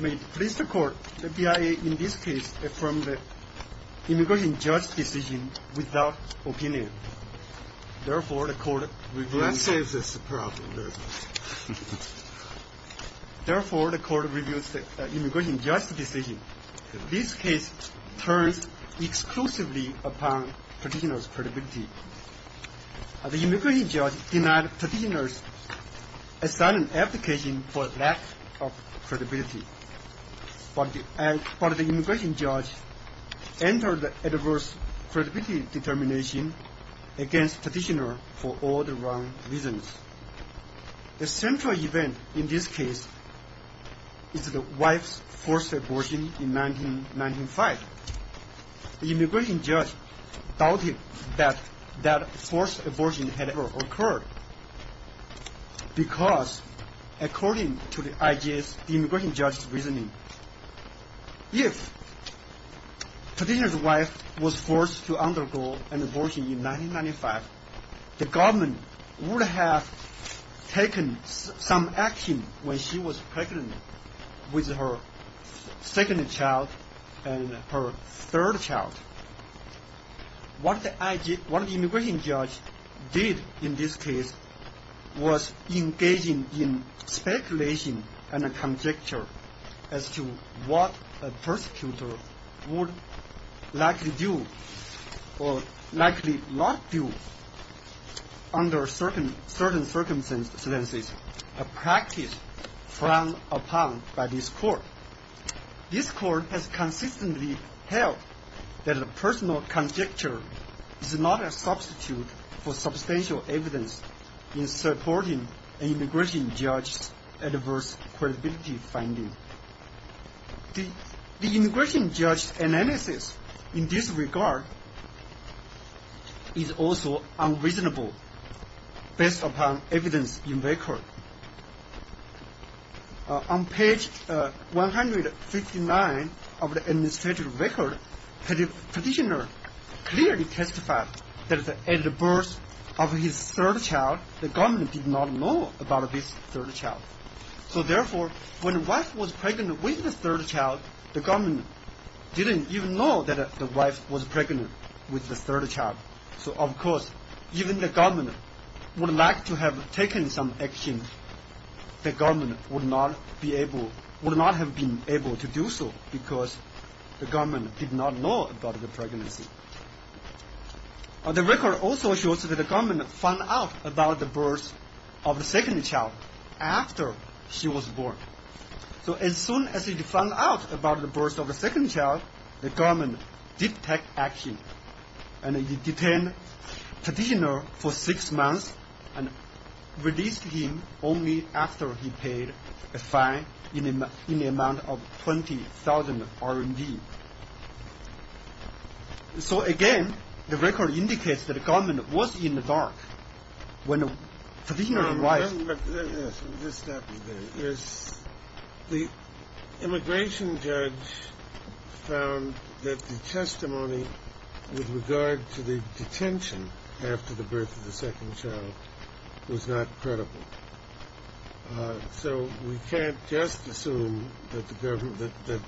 may please the court the BIA in this case from the immigration judge decision without opinion. Therefore, the court reviews this problem, therefore, the court reviews the immigration judge decision. This case turns exclusively to the BIA. The immigration judge denied the petitioner a silent application for lack of credibility. But the immigration judge entered the adverse credibility determination against the petitioner for all the wrong reasons. The central event in this case is the wife's forced abortion in 1995. The immigration judge doubted that that forced abortion had ever occurred because, according to the immigration judge's reasoning, if the petitioner's wife was forced to undergo an abortion in 1995, the government would have taken some action when she was pregnant with her second child and her third child. What the immigration judge did in this case was engaging in speculation and conjecture as to what a persecutor would likely do or likely not do under certain circumstances, a practice frowned upon by this court. This court has consistently held that a personal conjecture is not a substitute for substantial evidence in supporting an immigration judge's adverse credibility finding. The immigration judge's analysis in this regard is also unreasonable based upon evidence in record. On page 159 of the administrative record, the petitioner clearly testified that at the birth of his third child, the government did not know about this third child. So therefore, when the wife was pregnant with the third child, the government didn't even know that the wife was pregnant with the third child. So of course, even the government would like to have taken some action, the government would not have been able to do so because the government did not know about the pregnancy. The record also shows that the government found out about the birth of the second child after she was born. So as soon as it found out about the birth of the second child, the government did take action and it detained the petitioner for six months and released him only after he paid a fine in the amount of 20,000 RMB. So again, the record indicates that the government was in the dark when the petitioner arrived. The immigration judge found that the testimony with regard to the detention after the birth of the second child was not credible. So we can't just assume that the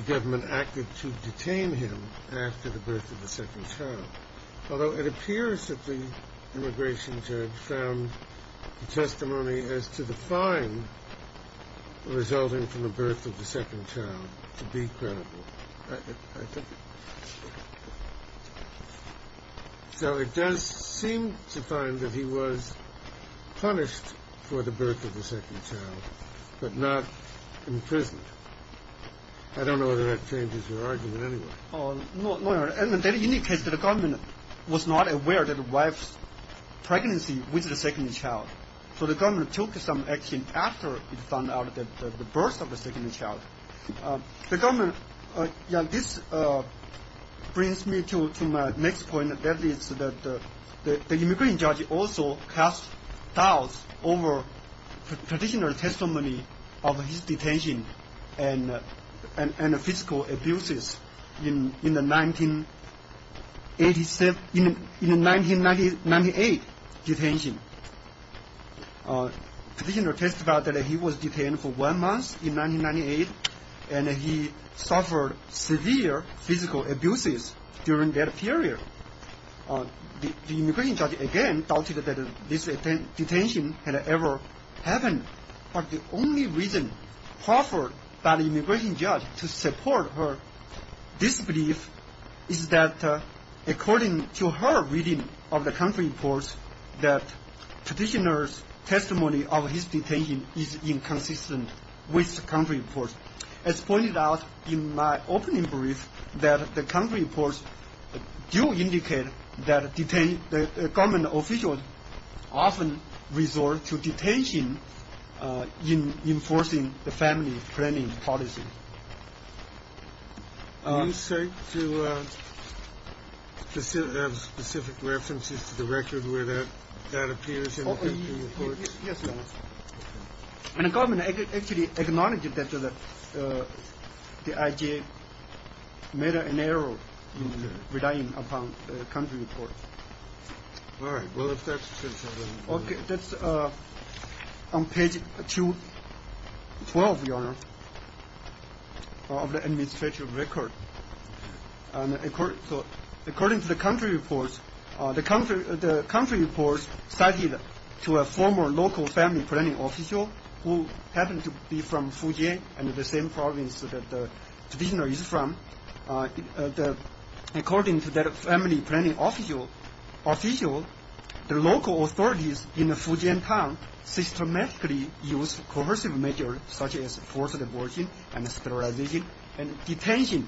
government acted to detain him after the birth of the second child, although it appears that the immigration judge found the testimony as to the fine resulting from the birth of the second child to be credible. So it does seem to find that he was punished for the birth of the second child, but not imprisoned. I don't know whether that changes your argument anyway. That indicates that the government was not aware of the wife's pregnancy with the second child. So the government took some action after it found out about the birth of the second child. This brings me to my next point. The immigration judge also cast doubts over the petitioner's testimony of his detention and physical abuses in the 1998 detention. The petitioner testified that he was detained for one month in 1998 and he suffered severe physical abuses during that period. The immigration judge again doubted that this detention had ever happened, but the only reason offered by the immigration judge to support her disbelief is that according to her reading of the country reports, that petitioner's testimony of his detention is inconsistent with the country reports. As pointed out in my opening brief, that the country reports do indicate that detained government officials often resort to detention in enforcing the family planning policy. Do you have specific references to the record where that appears in the country reports? Yes, Your Honor. And the government actually acknowledged that the IJ made an error in relying upon the country reports. That's on page 212, Your Honor, of the administrative record. According to the country reports, the country reports cited to a former local family planning official who happened to be from Fujian and the same province that the petitioner is from. According to that family planning official, the local authorities in the Fujian town systematically used coercive measures such as forced abortion and sterilization and detention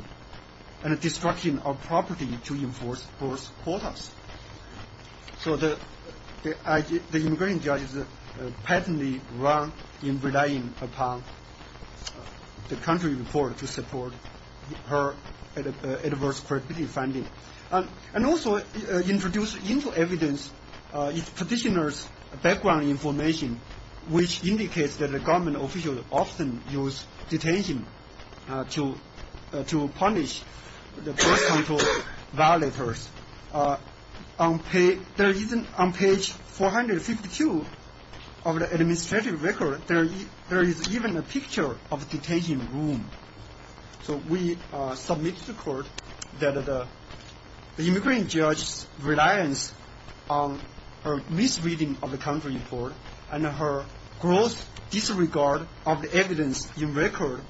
and destruction of property to enforce force quotas. So the immigration judge patently wrong in relying upon the country report to support her adverse credibility finding. And also introduced into evidence the petitioner's background information which indicates that the government officials often use detention to punish the birth control violators. On page 452 of the administrative record, there is even a picture of a detention room. So we submit to the court that the immigration judge's reliance on her misreading of the country report and her gross disregard of the evidence in record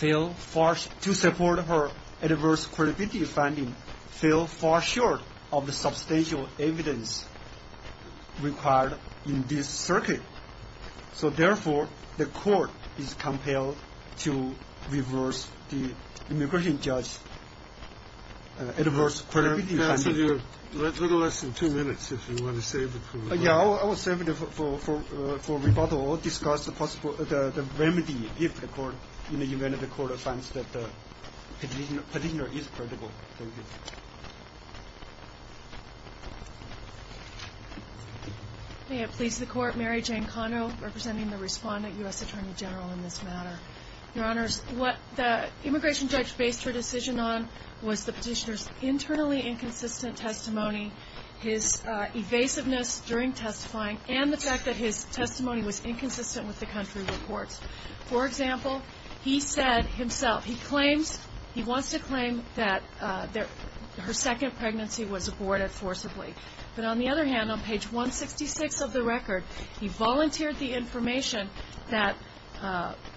to support her adverse credibility finding fell far short of the substantial evidence required in this circuit. So therefore, the court is compelled to reverse the immigration judge's adverse credibility finding. You have a little less than two minutes if you want to save it. Yeah, I will save it for rebuttal or discuss the remedy if the court, in the event that the court finds that the petitioner is credible. Thank you. May it please the court, Mary Jane Conno representing the respondent U.S. Attorney General in this matter. Your honors, what the immigration judge based her decision on was the petitioner's internally inconsistent testimony, his evasiveness during testifying, and the fact that his testimony was inconsistent with the country reports. For example, he said himself, he claims, he wants to claim that her second pregnancy was aborted forcibly. But on the other hand, on page 166 of the record, he volunteered the information that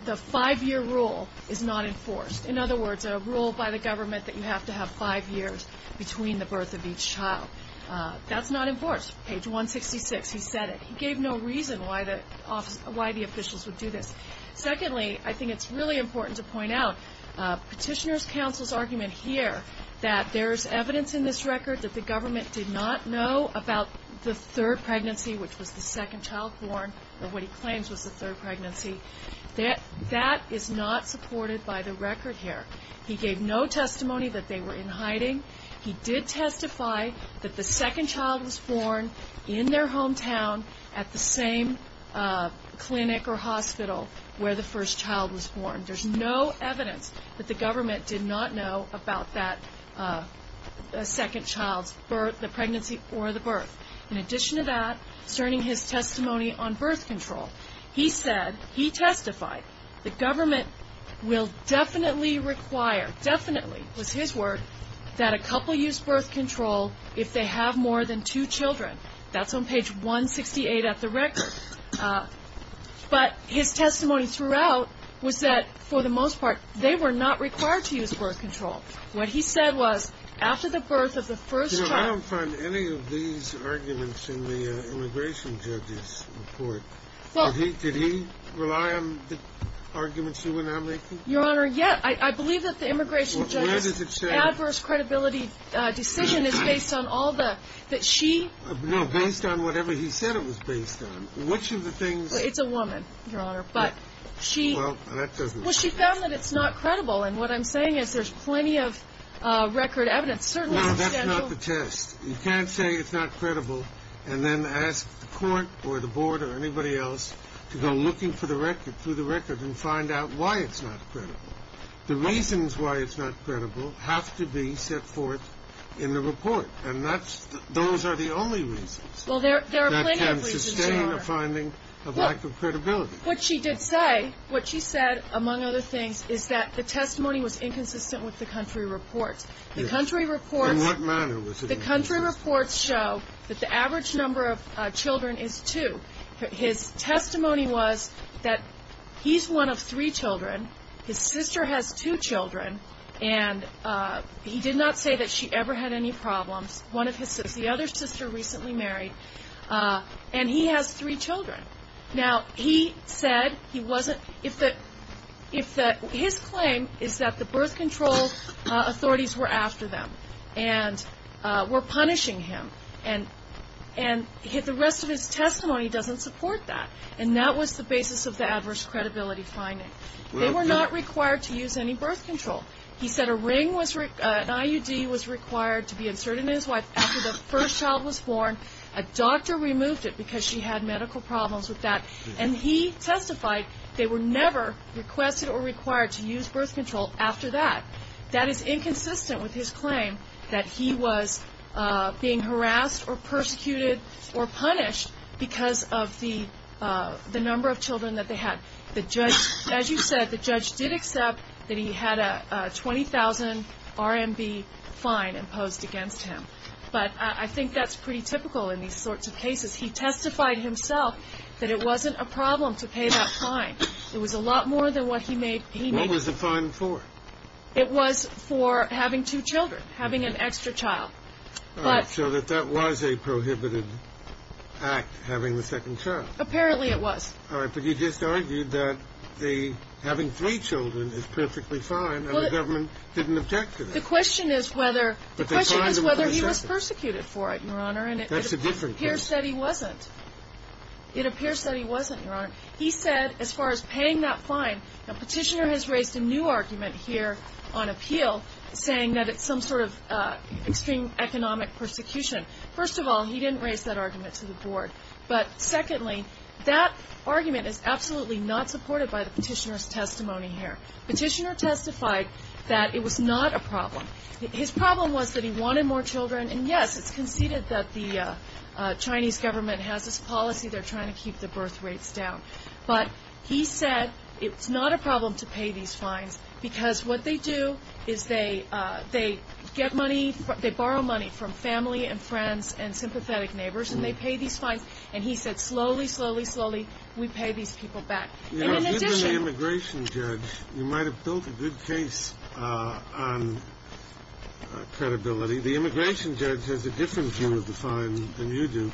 the five-year rule is not enforced. In other words, a rule by the government that you have to have five years between the birth of each child. That's not enforced. Page 166, he said it. He gave no reason why the officials would do this. Secondly, I think it's really important to point out petitioner's counsel's argument here that there's evidence in this record that the government did not know about the third pregnancy, which was the second child born, or what he claims was the third pregnancy. That is not supported by the record here. He gave no testimony that they were in hiding. He did testify that the second child was born in their hometown at the same clinic or hospital where the first child was born. There's no evidence that the government did not know about that second child's birth, the pregnancy, or the birth. In addition to that, concerning his testimony on birth control, he said, he testified, the government will definitely require, definitely was his word, that a couple use birth control if they have more than two children. That's on page 168 of the record. But his testimony throughout was that, for the most part, they were not required to use birth control. What he said was, after the birth of the first child. I don't find any of these arguments in the immigration judge's report. Did he rely on the arguments you were now making? Your Honor, yes. I believe that the immigration judge's adverse credibility decision is based on all the, that she. No, based on whatever he said it was based on. Which of the things. It's a woman, Your Honor. But she. Well, that doesn't. Well, she found that it's not credible. And what I'm saying is there's plenty of record evidence. No, that's not the test. You can't say it's not credible and then ask the court or the board or anybody else to go looking for the record, through the record, and find out why it's not credible. The reasons why it's not credible have to be set forth in the report. And that's, those are the only reasons. Well, there are plenty of reasons, Your Honor. That can sustain a finding of lack of credibility. What she did say, what she said, among other things, is that the testimony was inconsistent with the country report. Yes. The country report. In what manner was it inconsistent? The country reports show that the average number of children is two. His testimony was that he's one of three children. His sister has two children. And he did not say that she ever had any problems. One of his sisters. The other sister recently married. And he has three children. Now, he said he wasn't, if the, his claim is that the birth control authorities were after them and were punishing him. And the rest of his testimony doesn't support that. And that was the basis of the adverse credibility finding. They were not required to use any birth control. He said a ring was, an IUD was required to be inserted in his wife after the first child was born. A doctor removed it because she had medical problems with that. And he testified they were never requested or required to use birth control after that. That is inconsistent with his claim that he was being harassed or persecuted or punished because of the number of children that they had. The judge, as you said, the judge did accept that he had a 20,000 RMB fine imposed against him. But I think that's pretty typical in these sorts of cases. He testified himself that it wasn't a problem to pay that fine. It was a lot more than what he made, he made. What was the fine for? It was for having two children. Having an extra child. All right. So that that was a prohibited act, having a second child. Apparently it was. All right. The question is whether he was persecuted for it, Your Honor. That's a different case. It appears that he wasn't. It appears that he wasn't, Your Honor. He said as far as paying that fine, the petitioner has raised a new argument here on appeal saying that it's some sort of extreme economic persecution. First of all, he didn't raise that argument to the board. But secondly, that argument is absolutely not supported by the petitioner's testimony here. Petitioner testified that it was not a problem. His problem was that he wanted more children. And, yes, it's conceded that the Chinese government has this policy, they're trying to keep the birth rates down. But he said it's not a problem to pay these fines because what they do is they get money, they borrow money from family and friends and sympathetic neighbors, and they pay these fines. And he said slowly, slowly, slowly, we pay these people back. Given the immigration judge, you might have built a good case on credibility. The immigration judge has a different view of the fine than you do.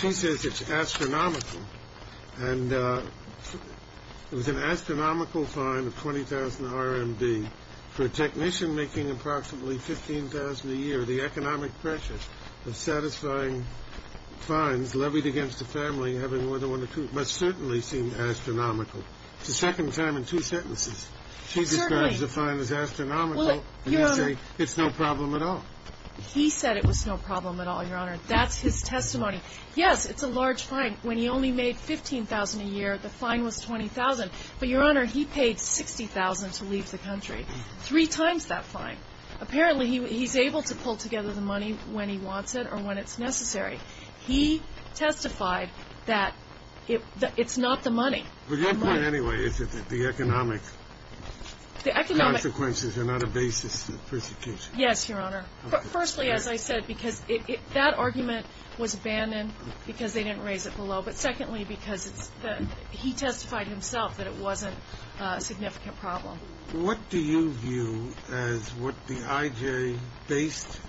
She says it's astronomical. And it was an astronomical fine of 20,000 RMB for a technician making approximately 15,000 a year. The economic pressure of satisfying fines levied against a family having more than one or two must certainly seem astronomical. It's the second time in two sentences. She describes the fine as astronomical, and you say it's no problem at all. He said it was no problem at all, Your Honor. That's his testimony. Yes, it's a large fine. When he only made 15,000 a year, the fine was 20,000. But, Your Honor, he paid 60,000 to leave the country, three times that fine. Apparently, he's able to pull together the money when he wants it or when it's necessary. He testified that it's not the money. But your point anyway is that the economic consequences are not a basis for persecution. Yes, Your Honor. Firstly, as I said, because that argument was abandoned because they didn't raise it below. But secondly, because he testified himself that it wasn't a significant problem. What do you view as what the I.J. based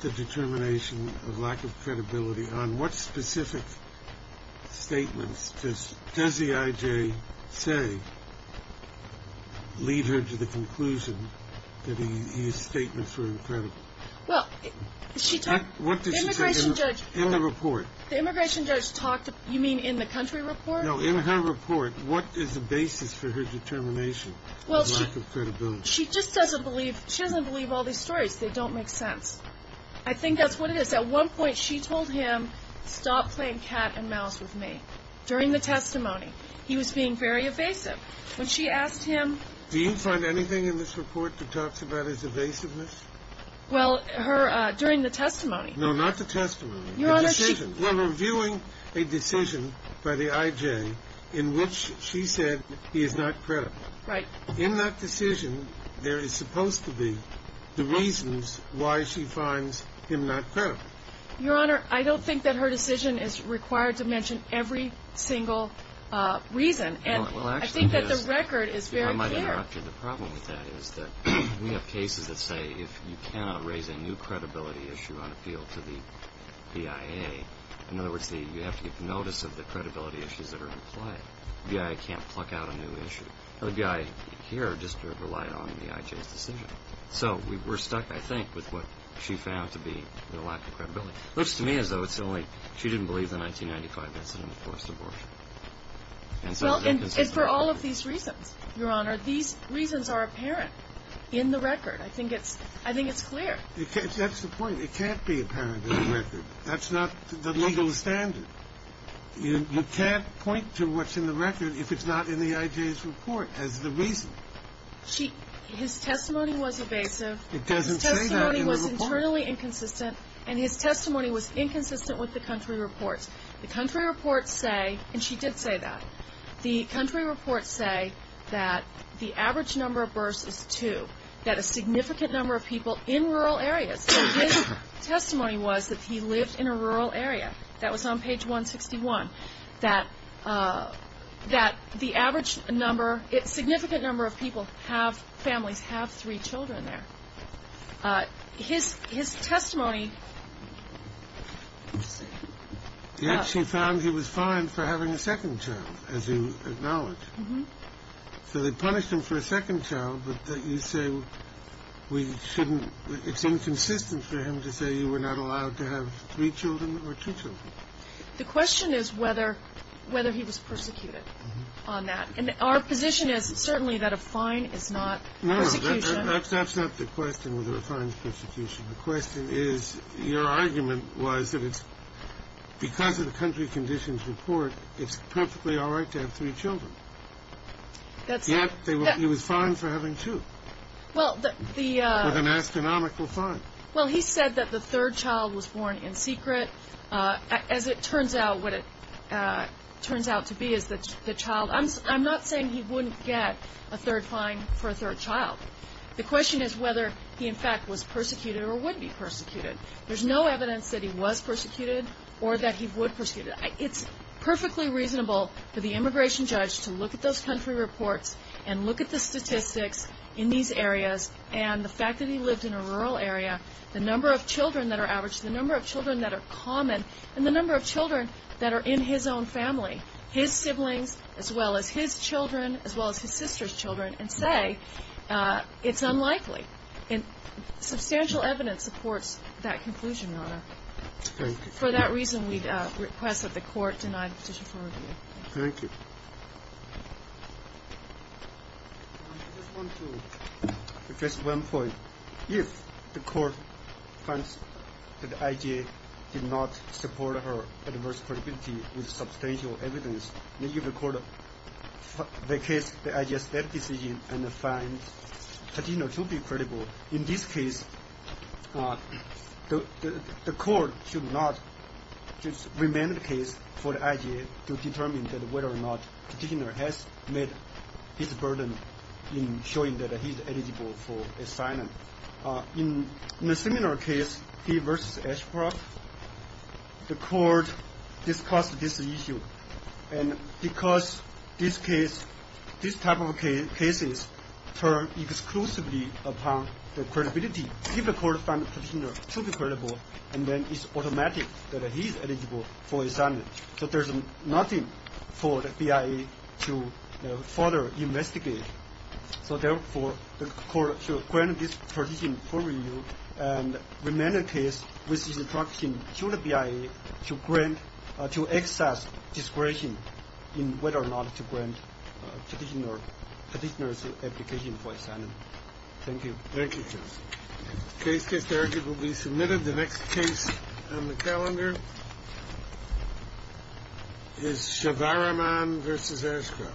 the determination of lack of credibility on? What specific statements does the I.J. say lead her to the conclusion that his statements were incredible? Well, the immigration judge talked, you mean in the country report? No, in her report. What is the basis for her determination? Well, she just doesn't believe all these stories. They don't make sense. I think that's what it is. At one point, she told him, stop playing cat and mouse with me. During the testimony, he was being very evasive. When she asked him... Do you find anything in this report that talks about his evasiveness? Well, during the testimony... No, not the testimony. Your Honor, she... In that decision, there is supposed to be the reasons why she finds him not credible. Your Honor, I don't think that her decision is required to mention every single reason. I think that the record is very clear. I might interrupt you. The problem with that is that we have cases that say if you cannot raise a new credibility issue on appeal to the BIA... In other words, you have to get the notice of the credibility issues that are in play. The BIA can't pluck out a new issue. The BIA here just relied on the IJ's decision. So, we're stuck, I think, with what she found to be the lack of credibility. Which to me is, though, it's the only... She didn't believe the 1995 incident of forced abortion. Well, and it's for all of these reasons, Your Honor. These reasons are apparent in the record. I think it's clear. That's the point. It can't be apparent in the record. That's not the legal standard. You can't point to what's in the record if it's not in the IJ's report as the reason. She... His testimony was evasive. It doesn't say that in the report. His testimony was internally inconsistent. And his testimony was inconsistent with the country reports. The country reports say, and she did say that, the country reports say that the average number of births is two, that a significant number of people in rural areas. So his testimony was that he lived in a rural area. That was on page 161. That the average number... A significant number of people have... families have three children there. His testimony... Yet she found he was fined for having a second child, as you acknowledge. Mm-hmm. So they punished him for a second child, but you say we shouldn't... It's inconsistent for him to say you were not allowed to have three children or two children. The question is whether he was persecuted on that. And our position is certainly that a fine is not persecution. No, that's not the question, whether a fine is persecution. The question is, your argument was that it's... Yet he was fined for having two. Well, the... With an astronomical fine. Well, he said that the third child was born in secret. As it turns out, what it turns out to be is that the child... I'm not saying he wouldn't get a third fine for a third child. The question is whether he, in fact, was persecuted or would be persecuted. There's no evidence that he was persecuted or that he would be persecuted. It's perfectly reasonable for the immigration judge to look at those country reports and look at the statistics in these areas and the fact that he lived in a rural area, the number of children that are averaged, the number of children that are common, and the number of children that are in his own family, his siblings as well as his children as well as his sister's children, and say it's unlikely. Substantial evidence supports that conclusion, Your Honor. Thank you. For that reason, we request that the Court deny the petition for review. Thank you. I just want to address one point. If the Court finds that the IG did not support her adverse credibility with substantial evidence, and if the Court vacates the IG's debt decision and finds Patino to be credible, in this case, the Court should not remain the case for the IG to determine whether or not Patino has met his burden in showing that he's eligible for asylum. In a similar case, he versus Ashcroft, the Court discussed this issue, and because this type of cases turn exclusively upon the credibility, if the Court finds Patino to be credible, then it's automatic that he's eligible for asylum. So there's nothing for the BIA to further investigate. So therefore, the Court should grant this petition for review and remain the case with instruction to the BIA to grant, to assess discretion in whether or not to grant petitioner's application for asylum. Thank you. Thank you, Judge. Case case directed will be submitted. The next case on the calendar is Shavaraman versus Ashcroft. Thank you.